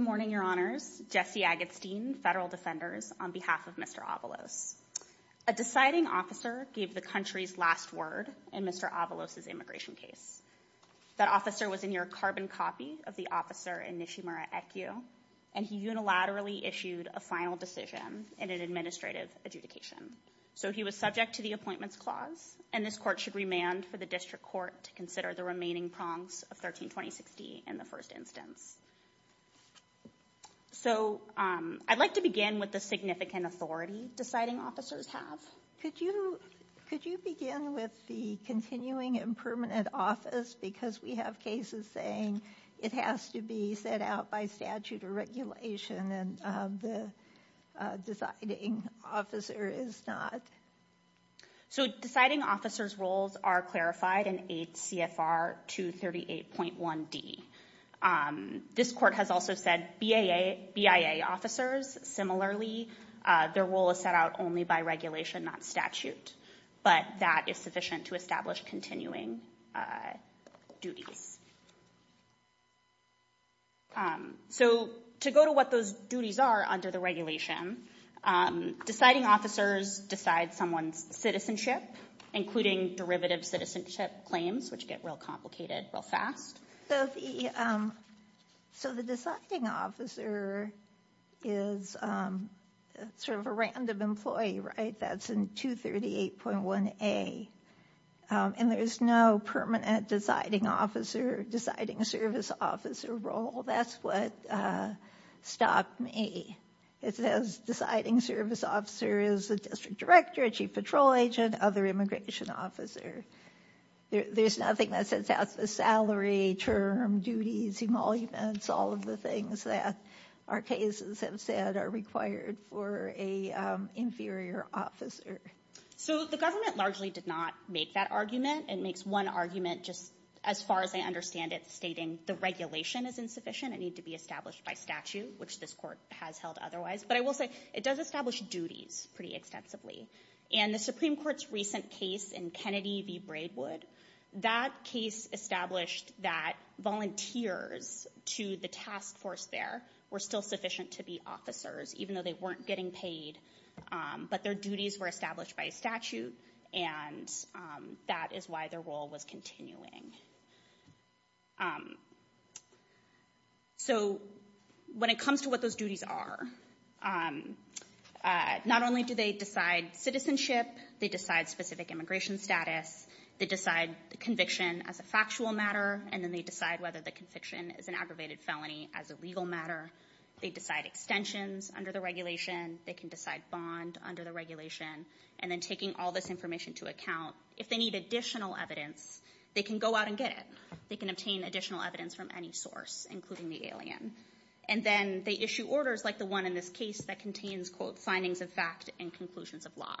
A deciding officer gave the country's last word in Mr. Avalos' immigration case. That officer was in your carbon copy of the officer and he unilaterally issued a final decision in an administrative adjudication. So he was subject to the appointments clause and this court should remand for the district court to consider the remaining prongs of 13-2060 in the first instance. So I'd like to begin with the significant authority deciding officers have. Could you begin with the continuing impermanent office because we have cases saying it has to be set out by statute or regulation and the deciding officer is not? So deciding officers' roles are clarified in 8 CFR 238.1D. This court has also said BIA officers, similarly, their role is set out only by regulation, not statute. But that is sufficient to establish continuing duties. So to go to what those duties are under the regulation, deciding officers decide someone's citizenship, including derivative citizenship claims, which get real complicated real fast. So the deciding officer is sort of a random employee, right? That's in 238.1A. And there's no permanent deciding officer, deciding service officer role. That's what stopped me. It says deciding service officer is the district director, chief patrol agent, other immigration officer. There's nothing that says that's a salary term, duties, emoluments, all of the things that our cases have said are required for an inferior officer. So the government largely did not make that argument. It makes one argument just as far as I understand it stating the regulation is insufficient. It needs to be established by statute, which this court has held otherwise. But I will say it does establish duties pretty extensively. And the Supreme Court's recent case in Kennedy v. Braidwood, that case established that volunteers to the task force there were still sufficient to be officers, even though they weren't getting paid. But their duties were established by statute. And that is why their role was continuing. So when it comes to what those duties are, not only do they decide citizenship, they decide specific immigration status, they decide the conviction as a factual matter, and then they decide whether the conviction is an aggravated felony as a legal matter. They decide extensions under the regulation. They can decide bond under the regulation. And then taking all this information to account, if they need additional evidence, they can go out and get it. They can obtain additional evidence from any source, including the alien. And then they issue orders like the one in this case that contains, quote, findings of fact and conclusions of law.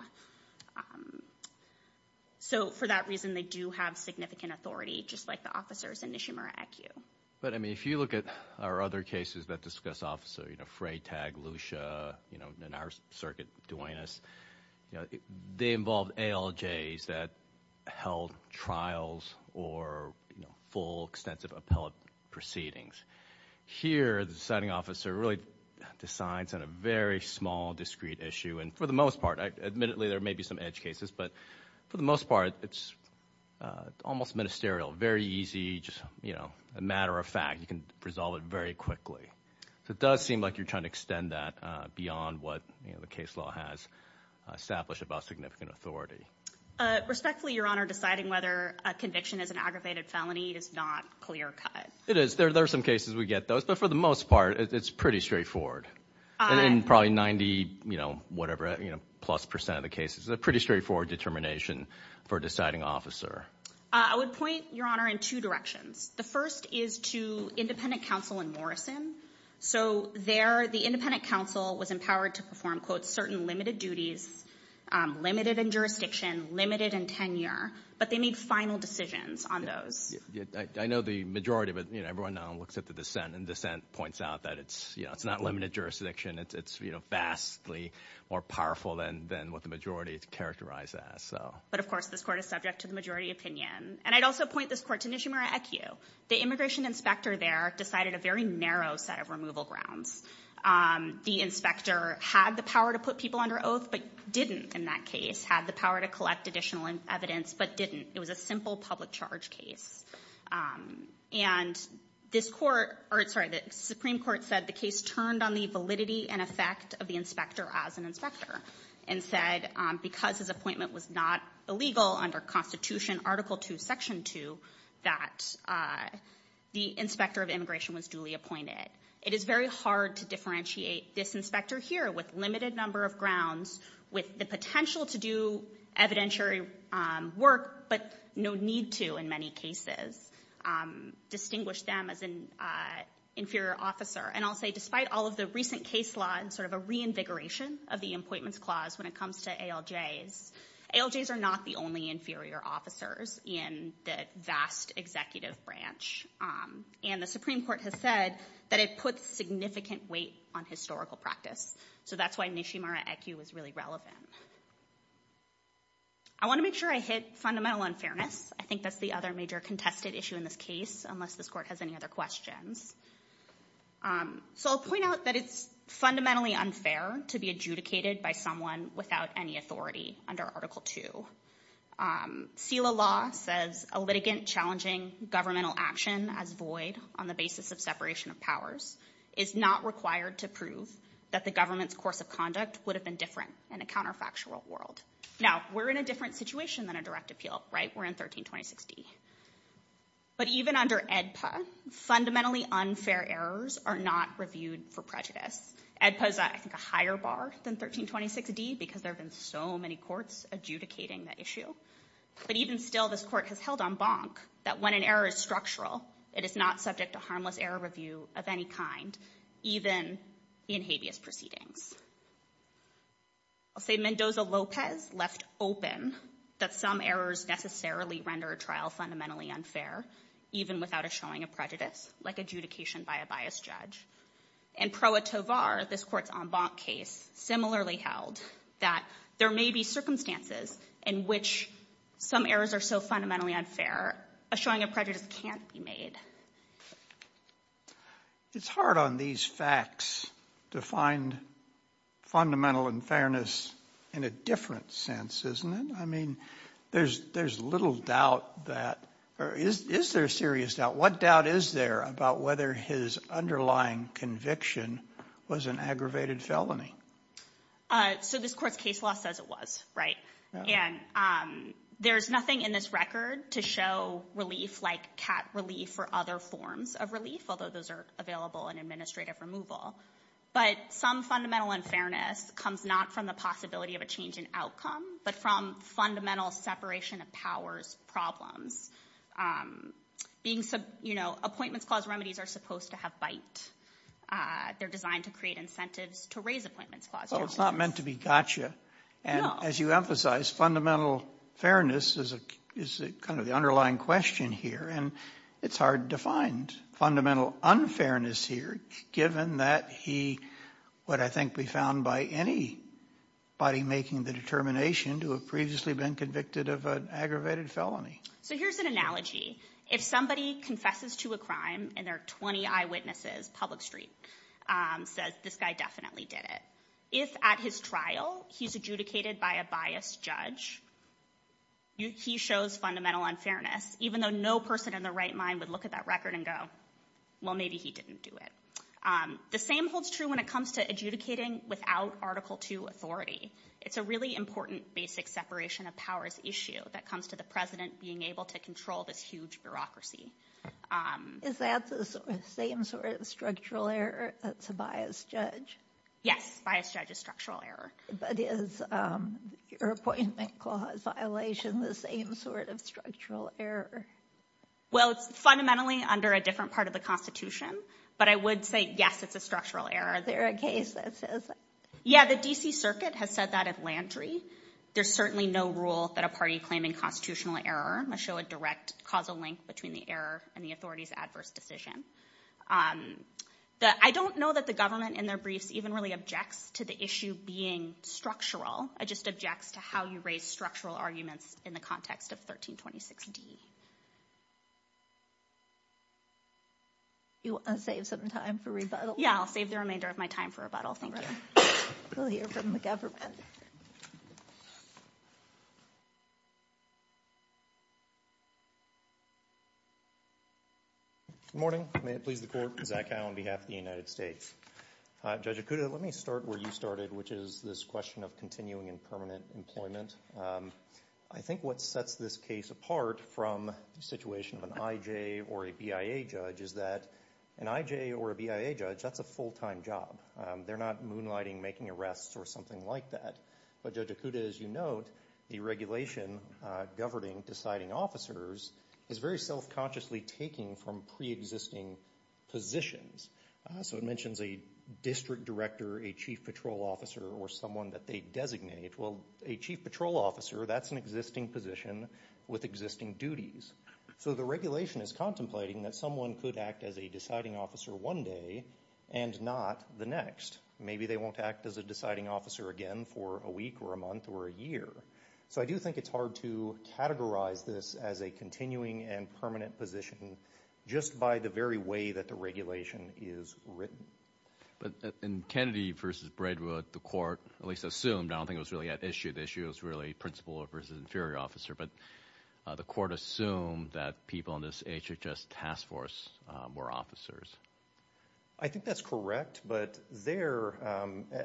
So for that reason, they do have significant authority, just like the officers in Nishimura, IQ. But I mean, if you look at our other cases that discuss officer, you know, Frey, Tag, Lucia, you know, and our circuit, Duenas, you know, they involved ALJs that held trials or, you know, full extensive appellate proceedings. Here, the deciding officer really decides on a very small, discrete issue. And for the most part, admittedly, there may be some edge cases, but for the most part, it's almost ministerial. Very easy, just, you know, a matter of fact. You can resolve it very quickly. So it does seem like you're trying to extend that beyond what, you know, the case law has established about significant authority. Respectfully, Your Honor, deciding whether a conviction is an aggravated felony is not clear-cut. It is. There are some cases we get those, but for the most part, it's pretty straightforward. And probably 90, you know, whatever, you know, plus percent of the cases, a pretty straightforward determination for a deciding officer. I would point, Your Honor, in two directions. The first is to independent counsel in Morrison. So there, the independent counsel was empowered to perform, quote, certain limited duties, limited in jurisdiction, limited in tenure, but they made final decisions on those. I know the majority, but, you know, everyone now looks at the dissent, and dissent points out that it's, you know, it's not limited jurisdiction. It's, you know, vastly more powerful than what the majority is characterized as, so. But of course, this Court is subject to the majority opinion. And I'd also point this Court to Nishimura Ekiu. The immigration inspector there decided a very narrow set of removal grounds. The inspector had the power to put people under oath, but didn't in that case, had the power to collect additional evidence, but didn't. It was a simple public charge case. And this Court, or sorry, the Supreme Court said the case turned on the validity and effect of the inspector as an inspector, and said because his appointment was not illegal under Constitution Article 2, Section 2, that the inspector of immigration was duly appointed. It is very hard to differentiate this inspector here with limited number of grounds, with the potential to do evidentiary work, but no need to in many cases. Distinguish them as an inferior officer. And I'll say despite all of the recent case law and sort of a reinvigoration of the Appointments Clause when it comes to ALJs, ALJs are not the only inferior officers in the vast executive branch. And the Supreme Court has said that it puts significant weight on historical practice. So that's why Nishimura Ekiu is really relevant. I want to make sure I hit fundamental unfairness. I think that's the other major contested issue in this case, unless this Court has any other questions. So I'll point out that it's fundamentally unfair to be adjudicated by someone without any authority under Article 2. SELA law says a litigant challenging governmental action as void on the basis of separation of powers is not required to prove that the government's course of conduct would have been different in a counterfactual world. Now, we're in a different situation than a direct appeal, right? We're in 1326D. But even under AEDPA, fundamentally unfair errors are not reviewed for prejudice. AEDPA is, I think, a higher bar than 1326D because there have been so many courts adjudicating the issue. But even still, this Court has held en banc that when an error is structural, it is not subject to harmless error review of any kind, even in habeas proceedings. I'll say Mendoza-Lopez left open that some errors necessarily render a trial fundamentally unfair, even without a showing of prejudice, like adjudication by a biased judge. And Pro Corte's similarly held that there may be circumstances in which some errors are so fundamentally unfair, a showing of prejudice can't be made. It's hard on these facts to find fundamental unfairness in a different sense, isn't it? I mean, there's little doubt that, or is there serious doubt? What doubt is there about whether his underlying conviction was an aggravated felony? So this Court's case law says it was, right? And there's nothing in this record to show relief like cat relief or other forms of relief, although those are available in administrative removal. But some fundamental unfairness comes not from the possibility of a change in outcome, but from fundamental separation of powers problems. Appointments clause remedies are supposed to have bite. They're designed to create incentives to raise appointments clause remedies. Well, it's not meant to be gotcha. No. And as you emphasize, fundamental fairness is kind of the underlying question here, and it's hard to find fundamental unfairness here, given that he would, I think, be found by anybody making the determination to have previously been convicted of an aggravated felony. So here's an analogy. If somebody confesses to a crime and there are 20 eyewitnesses, public street, says, this guy definitely did it. If at his trial, he's adjudicated by a biased judge, he shows fundamental unfairness, even though no person in their right mind would look at that record and go, well, maybe he didn't do it. The same holds true when it comes to adjudicating without Article II authority. It's a really important basic separation of powers issue that comes to the president being able to control this huge bureaucracy. Is that the same sort of structural error that's a biased judge? Yes. A biased judge is a structural error. But is your appointment clause violation the same sort of structural error? Well, it's fundamentally under a different part of the Constitution, but I would say, yes, it's a structural error. Is there a case that says that? Yeah, the DC Circuit has said that at Landry. There's certainly no rule that a party claiming constitutional error must show a direct causal link between the error and the authority's adverse decision. I don't know that the government in their briefs even really objects to the issue being structural. It just objects to how you raise structural arguments in the context of 1326D. You want to save some time for rebuttal? Yeah, I'll save the remainder of my time for rebuttal. Thank you. We'll hear from the government. Good morning. May it please the Court. Zach Howe on behalf of the United States. Judge Ikuda, let me start where you started, which is this question of continuing in permanent employment. I think what sets this case apart from the situation of an IJ or a BIA judge is that an IJ or a BIA judge, that's a full-time job. They're not moonlighting, making arrests, or something like that. But Judge Ikuda, as you note, the regulation governing deciding officers is very self-consciously taking from pre-existing positions. So it mentions a district director, a chief patrol officer, or someone that they designate. Well, a chief patrol officer, that's an existing position with existing duties. So the regulation is contemplating that someone could act as a deciding officer one day and not the next. Maybe they won't act as a deciding officer again for a week or a month or a year. So I do think it's hard to categorize this as a continuing and permanent position just by the very way that the regulation is written. But in Kennedy v. Braidwood, the Court at least assumed, I don't think it was really at issue, the issue was really principal v. inferior officer, but the Court assumed that people in this HHS task force were officers. I think that's correct, but there,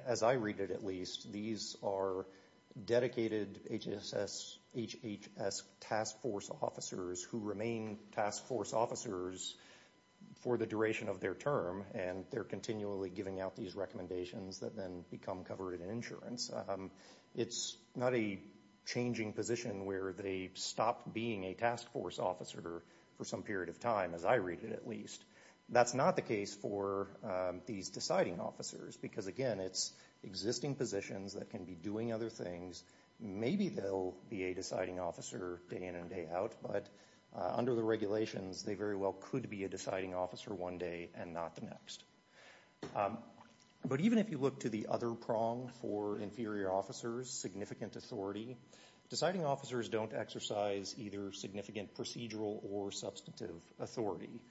as I read it at least, these are dedicated HHS task force officers who remain task force officers for the duration of their term, and they're continually giving out these recommendations that then become covered in insurance. It's not a changing position where they stop being a task force officer for some period of time, as I read it at least. That's not the case for these deciding officers, because again, it's existing positions that can be doing other things. Maybe they'll be a deciding officer day in and day out, but under the regulations, they very well could be a deciding officer one day and not the next. But even if you look to the other prong for inferior officers, significant authority, deciding officers don't exercise either significant procedural or substantive authority.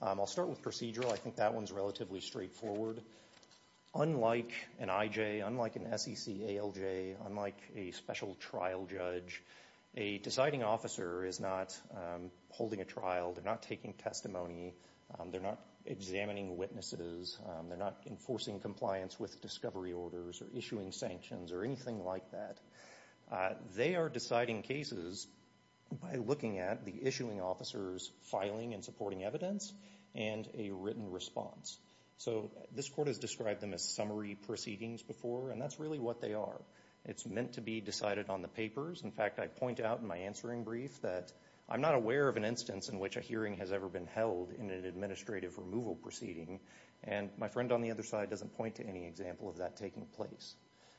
I'll start with procedural, I think that one's relatively straightforward. Unlike an IJ, unlike an SEC ALJ, unlike a special trial judge, a deciding officer is not holding a trial, they're not taking testimony, they're not examining witnesses, they're not enforcing compliance with discovery orders or issuing sanctions or anything like that. They are deciding cases by looking at the issuing officer's filing and supporting evidence and a written response. So this court has described them as summary proceedings before, and that's really what they are. It's meant to be decided on the papers. In fact, I point out in my answering brief that I'm not aware of an instance in which a hearing has ever been held in an administrative removal proceeding. And my friend on the other side doesn't point to any example of that taking place.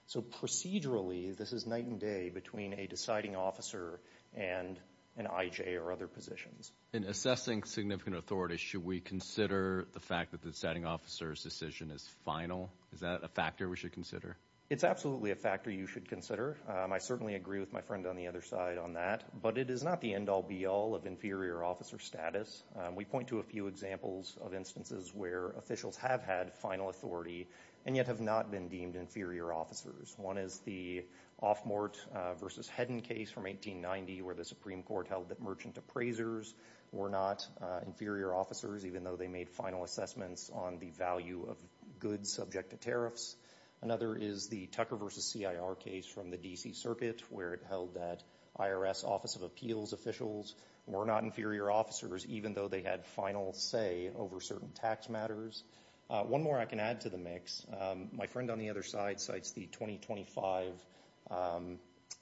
So procedurally, this is night and day between a deciding officer and an IJ or other positions. In assessing significant authority, should we consider the fact that the deciding officer's decision is final? Is that a factor we should consider? It's absolutely a factor you should consider. I certainly agree with my friend on the other side on that. But it is not the end-all be-all of inferior officer status. We point to a few examples of instances where officials have had final authority and yet have not been deemed inferior officers. One is the Offmort v. Hedden case from 1890 where the Supreme Court held that merchant appraisers were not inferior officers even though they made final assessments on the value of goods subject to tariffs. Another is the Tucker v. C.I.R. case from the D.C. Circuit where it held that IRS Office of Appeals officials were not inferior officers even though they had final say over certain tax matters. One more I can add to the mix. My friend on the other side cites the 2025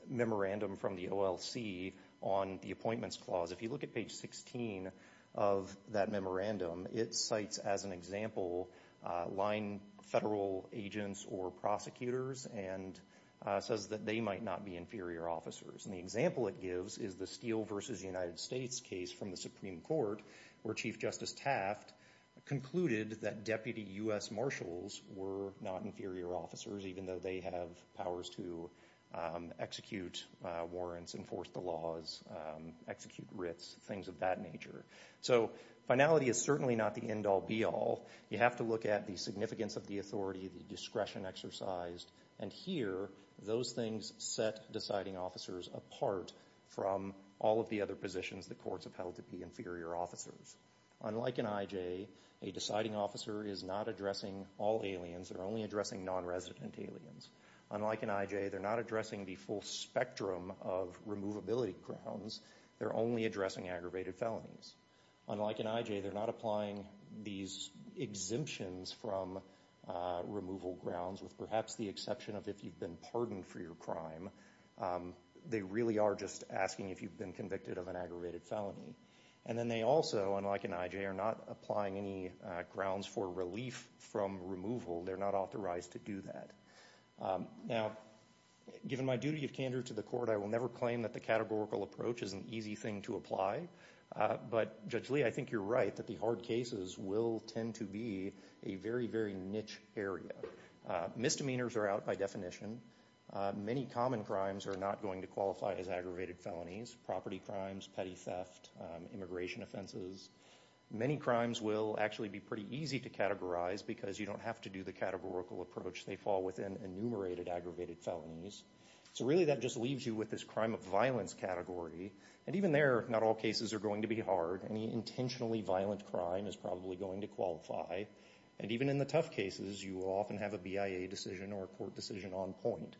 memorandum from the OLC on the Appointments Clause. If you look at page 16 of that memorandum, it cites as an example line federal agents or prosecutors and says that they might not be inferior officers. The example it gives is the Steele v. United States case from the Supreme Court where Chief Justice Taft concluded that Deputy U.S. Marshals were not inferior officers even though they have powers to execute warrants, enforce the laws, execute writs, things of that nature. So finality is certainly not the end-all be-all. You have to look at the significance of the authority, the discretion exercised, and here those things set deciding officers apart from all of the other positions the courts upheld to be inferior officers. Unlike an I.J., a deciding officer is not addressing all aliens, they're only addressing non-resident aliens. Unlike an I.J., they're not addressing the full spectrum of removability grounds, they're only addressing aggravated felonies. Unlike an I.J., they're not applying these exemptions from removal grounds with perhaps the exception of if you've been pardoned for your crime. They really are just asking if you've been convicted of an aggravated felony. And then they also, unlike an I.J., are not applying any grounds for relief from removal, they're not authorized to do that. Now given my duty of candor to the court, I will never claim that the categorical approach is an easy thing to apply, but Judge Lee, I think you're right that the hard cases will tend to be a very, very niche area. Misdemeanors are out by definition. Many common crimes are not going to qualify as aggravated felonies. Property crimes, petty theft, immigration offenses. Many crimes will actually be pretty easy to categorize because you don't have to do the categorical approach, they fall within enumerated aggravated felonies. So really that just leaves you with this crime of violence category. And even there, not all cases are going to be hard. Any intentionally violent crime is probably going to qualify. And even in the tough cases, you often have a BIA decision or a court decision on point.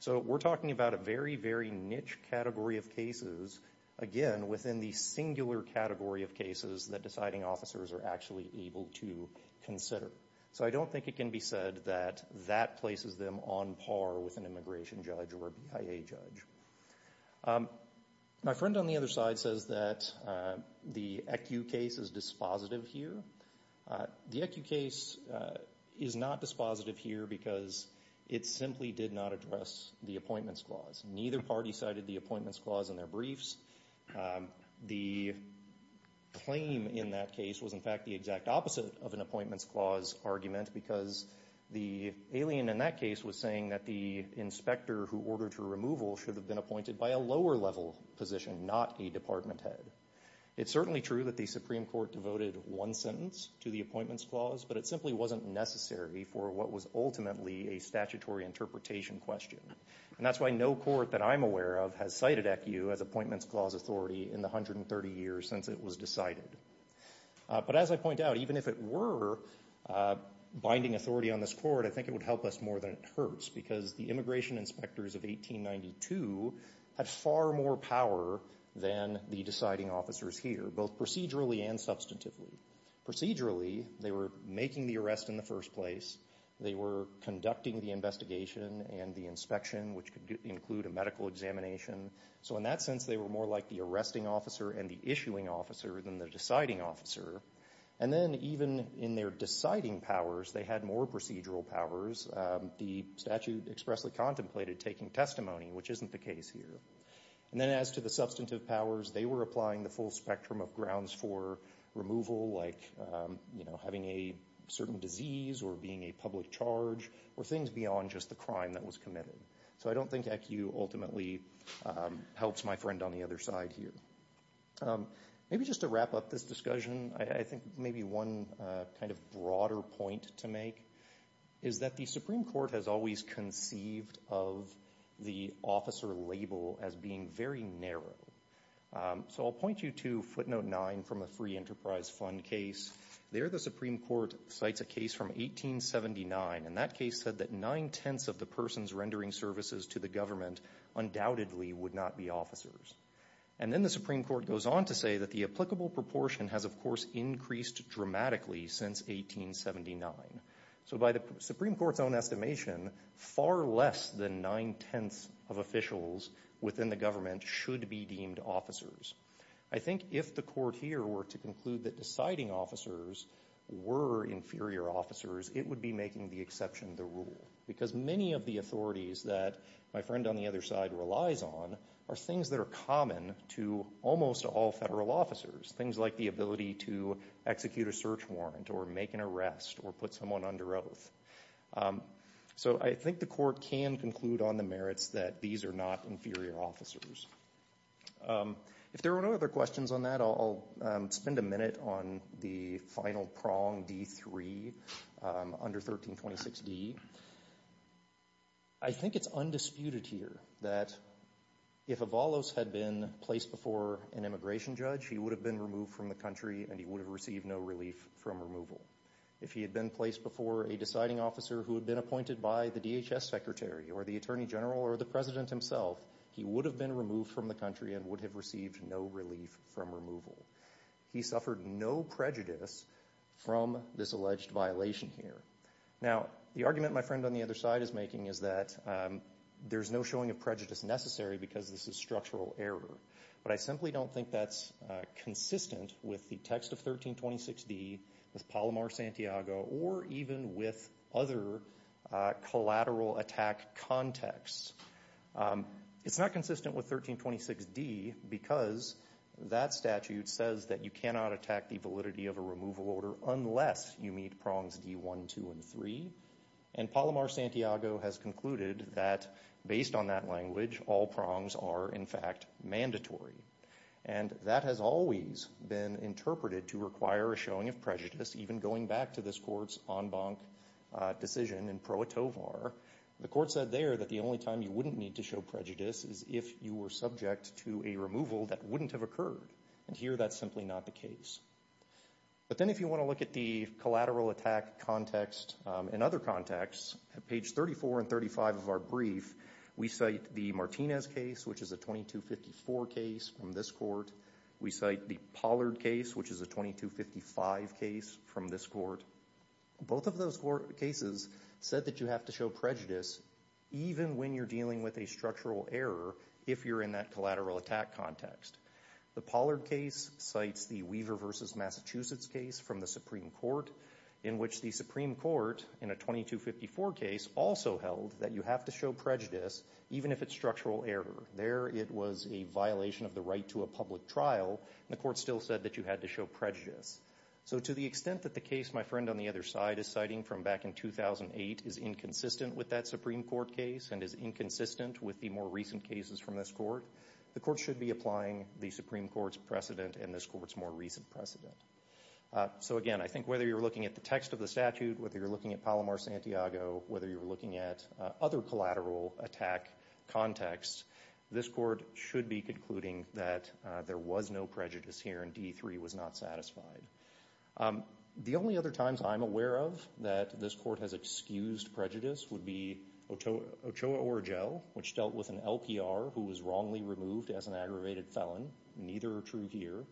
So we're talking about a very, very niche category of cases, again, within the singular category of cases that deciding officers are actually able to consider. So I don't think it can be said that that places them on par with an immigration judge or a BIA judge. My friend on the other side says that the ECU case is dispositive here. The ECU case is not dispositive here because it simply did not address the appointments clause. Neither party cited the appointments clause in their briefs. The claim in that case was, in fact, the exact opposite of an appointments clause argument because the alien in that case was saying that the inspector who ordered her removal should have been appointed by a lower level position, not a department head. It's certainly true that the Supreme Court devoted one sentence to the appointments clause, but it simply wasn't necessary for what was ultimately a statutory interpretation question. And that's why no court that I'm aware of has cited ECU as appointments clause authority in the 130 years since it was decided. But as I point out, even if it were binding authority on this court, I think it would help us more than it hurts because the immigration inspectors of 1892 had far more power than the deciding officers here, both procedurally and substantively. Procedurally, they were making the arrest in the first place. They were conducting the investigation and the inspection, which could include a medical examination. So in that sense, they were more like the arresting officer and the issuing officer than the deciding officer. And then even in their deciding powers, they had more procedural powers. The statute expressly contemplated taking testimony, which isn't the case here. And then as to the substantive powers, they were applying the full spectrum of grounds for removal, like, you know, having a certain disease or being a public charge or things beyond just the crime that was committed. So I don't think ECU ultimately helps my friend on the other side here. Maybe just to wrap up this discussion, I think maybe one kind of broader point to make is that the Supreme Court has always conceived of the officer label as being very narrow. So I'll point you to footnote nine from a Free Enterprise Fund case. There, the Supreme Court cites a case from 1879, and that case said that nine-tenths of the person's rendering services to the government undoubtedly would not be officers. And then the Supreme Court goes on to say that the applicable proportion has, of course, increased dramatically since 1879. So by the Supreme Court's own estimation, far less than nine-tenths of officials within the government should be deemed officers. I think if the court here were to conclude that deciding officers were inferior officers, it would be making the exception the rule, because many of the authorities that my friend on the other side relies on are things that are common to almost all federal officers, things like the ability to execute a search warrant or make an arrest or put someone under oath. So I think the court can conclude on the merits that these are not inferior officers. If there are no other questions on that, I'll spend a minute on the final prong, D3, under 1326D. I think it's undisputed here that if Avalos had been placed before an immigration judge, he would have been removed from the country and he would have received no relief from removal. If he had been placed before a deciding officer who had been appointed by the DHS secretary or the attorney general or the president himself, he would have been removed from the country and would have received no relief from removal. He suffered no prejudice from this alleged violation here. Now, the argument my friend on the other side is making is that there's no showing of prejudice necessary because this is structural error. But I simply don't think that's consistent with the text of 1326D, with Palomar-Santiago, or even with other collateral attack contexts. It's not consistent with 1326D because that statute says that you cannot attack the validity of a removal order unless you meet prongs D1, 2, and 3. And Palomar-Santiago has concluded that based on that language, all prongs are, in fact, mandatory. And that has always been interpreted to require a showing of prejudice, even going back to this court's en banc decision in Pro Atovar. The court said there that the only time you wouldn't need to show prejudice is if you were subject to a removal that wouldn't have occurred. And here, that's simply not the case. But then if you want to look at the collateral attack context and other contexts, at page 34 and 35 of our brief, we cite the Martinez case, which is a 2254 case from this court. We cite the Pollard case, which is a 2255 case from this court. Both of those cases said that you have to show prejudice even when you're dealing with a structural error if you're in that collateral attack context. The Pollard case cites the Weaver versus Massachusetts case from the Supreme Court, in which the Supreme Court, in a 2254 case, also held that you have to show prejudice even if it's structural error. There, it was a violation of the right to a public trial, and the court still said that you had to show prejudice. So to the extent that the case my friend on the other side is citing from back in 2008 is inconsistent with that Supreme Court case and is inconsistent with the more recent cases from this court, the court should be applying the Supreme Court's precedent and this court's more recent precedent. So again, I think whether you're looking at the text of the statute, whether you're looking at Palomar-Santiago, whether you're looking at other collateral attack contexts, this court should be concluding that there was no prejudice here and D3 was not satisfied. The only other times I'm aware of that this court has excused prejudice would be Ochoa-Orojel, which dealt with an LPR who was wrongly removed as an aggravated felon. Neither are true here.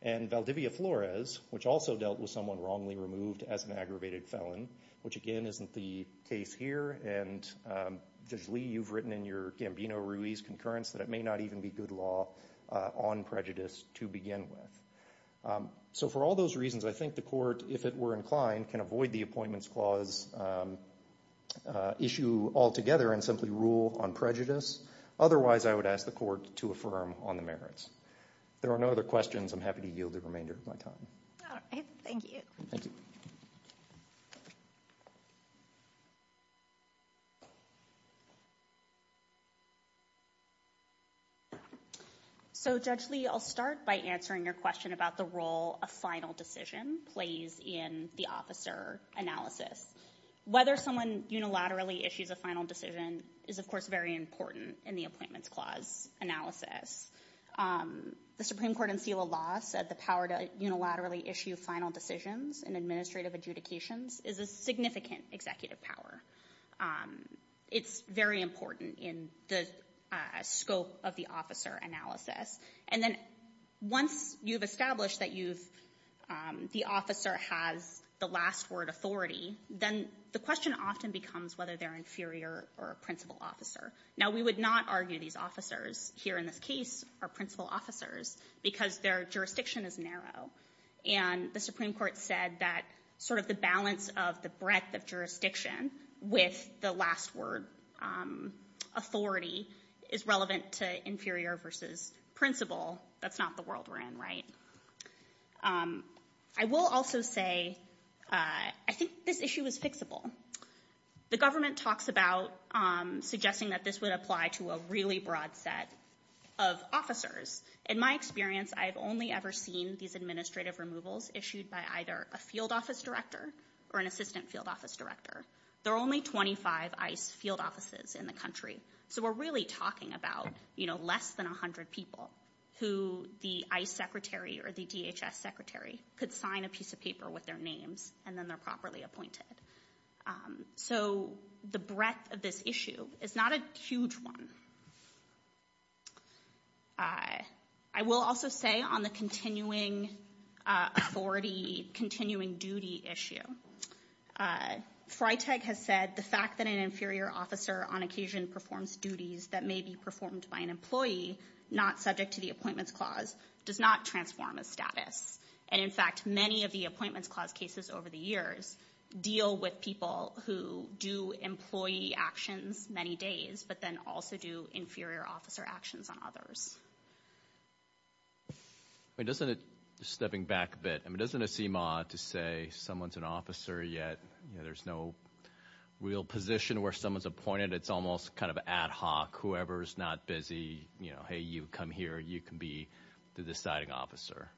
And Valdivia-Flores, which also dealt with someone wrongly removed as an aggravated felon, which again isn't the case here. And, Judge Lee, you've written in your Gambino-Ruiz concurrence that it may not even be good law on prejudice to begin with. So for all those reasons, I think the court, if it were inclined, can avoid the Appointments Clause issue altogether and simply rule on prejudice. Otherwise, I would ask the court to affirm on the merits. There are no other questions. I'm happy to yield the remainder of my time. All right. Thank you. Thank you. So, Judge Lee, I'll start by answering your question about the role a final decision plays in the officer analysis. Whether someone unilaterally issues a final decision is, of course, very important in the Appointments Clause analysis. The Supreme Court and SELA law said the power to unilaterally issue final decisions in administrative adjudications is a significant executive power. It's very important in the scope of the officer analysis. And then once you've established that you've, the officer has the last word authority, then the question often becomes whether they're inferior or a principal officer. Now, we would not argue these officers here in this case are principal officers because their jurisdiction is narrow. And the Supreme Court said that sort of the balance of the breadth of jurisdiction with the last word authority is relevant to inferior versus principal. That's not the world we're in, right? I will also say I think this issue is fixable. The government talks about suggesting that this would apply to a really broad set of officers. In my experience, I've only ever seen these administrative removals issued by either a field office director or an assistant field office director. There are only 25 ICE field offices in the country. So we're really talking about, you know, less than 100 people who the ICE secretary or the DHS secretary could sign a piece of paper with their names and then they're properly appointed. So the breadth of this issue is not a huge one. I will also say on the continuing authority, continuing duty issue, Freytag has said the fact that an inferior officer on occasion performs duties that may be performed by an employee not subject to the Appointments Clause does not transform a status. And in fact, many of the Appointments Clause cases over the years deal with people who do employee actions many days, but then also do inferior officer actions on others. I mean, doesn't it, just stepping back a bit, I mean, doesn't it seem odd to say someone's an officer yet, you know, there's no real position where someone's appointed. It's almost kind of ad hoc. Whoever's not busy, you know, hey, you come here. You can be the deciding officer.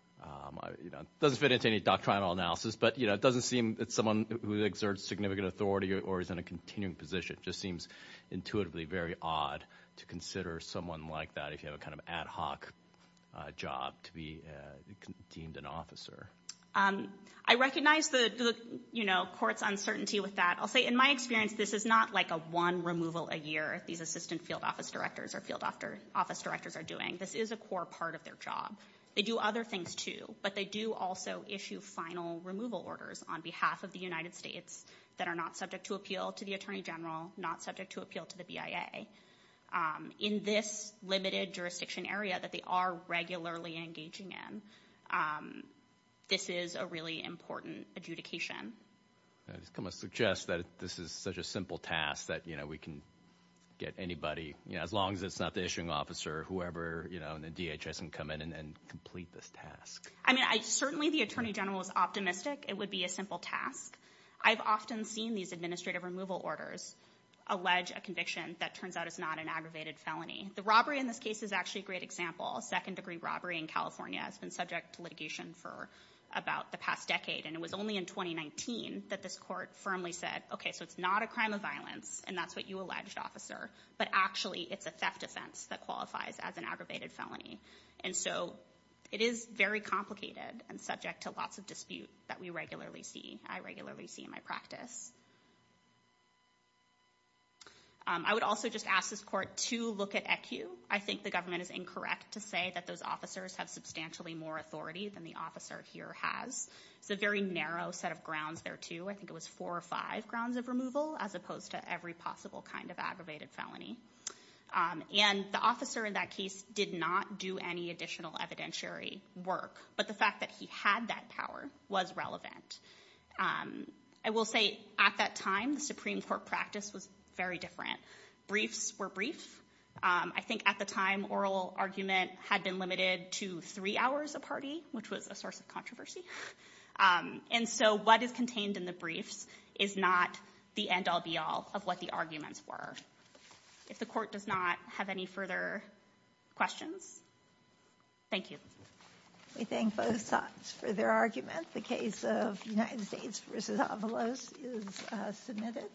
You know, it doesn't fit into any doctrinal analysis, but, you know, it doesn't seem that someone who exerts significant authority or is in a continuing position just seems intuitively very odd to consider someone like that if you have a kind of ad hoc job to be deemed an officer. I recognize the, you know, court's uncertainty with that. I'll say in my experience, this is not like a one removal a year these assistant field office directors or field office directors are doing. This is a core part of their job. They do other things too, but they do also issue final removal orders on behalf of the United States that are not subject to appeal to the attorney general, not subject to appeal to the BIA. In this limited jurisdiction area that they are regularly engaging in, this is a really important adjudication. I just kind of suggest that this is such a simple task that, you know, we can get anybody, you know, as long as it's not the issuing officer, whoever, you know, in the DHS can come in and complete this task. I mean, certainly the attorney general is optimistic it would be a simple task. I've often seen these administrative removal orders allege a conviction that turns out is not an aggravated felony. The robbery in this case is actually a great example, a second degree robbery in California has been subject to litigation for about the past decade. And it was only in 2019 that this court firmly said, okay, so it's not a crime of violence and that's what you alleged officer, but actually it's a theft offense that qualifies as an aggravated felony. And so it is very complicated and subject to lots of dispute that we regularly see, I regularly see in my practice. I would also just ask this court to look at ECU. I think the government is incorrect to say that those officers have substantially more authority than the officer here has. It's a very narrow set of grounds there too. I think it was four or five grounds of removal as opposed to every possible kind of aggravated felony. And the officer in that case did not do any additional evidentiary work, but the fact that he had that power was relevant. I will say at that time, the Supreme Court practice was very different. Briefs were brief. I think at the time, oral argument had been limited to three hours a party, which was a source of controversy. And so what is contained in the briefs is not the end all be all of what the arguments were. If the court does not have any further questions, thank you. We thank both sides for their argument. The case of United States versus Avalos is submitted.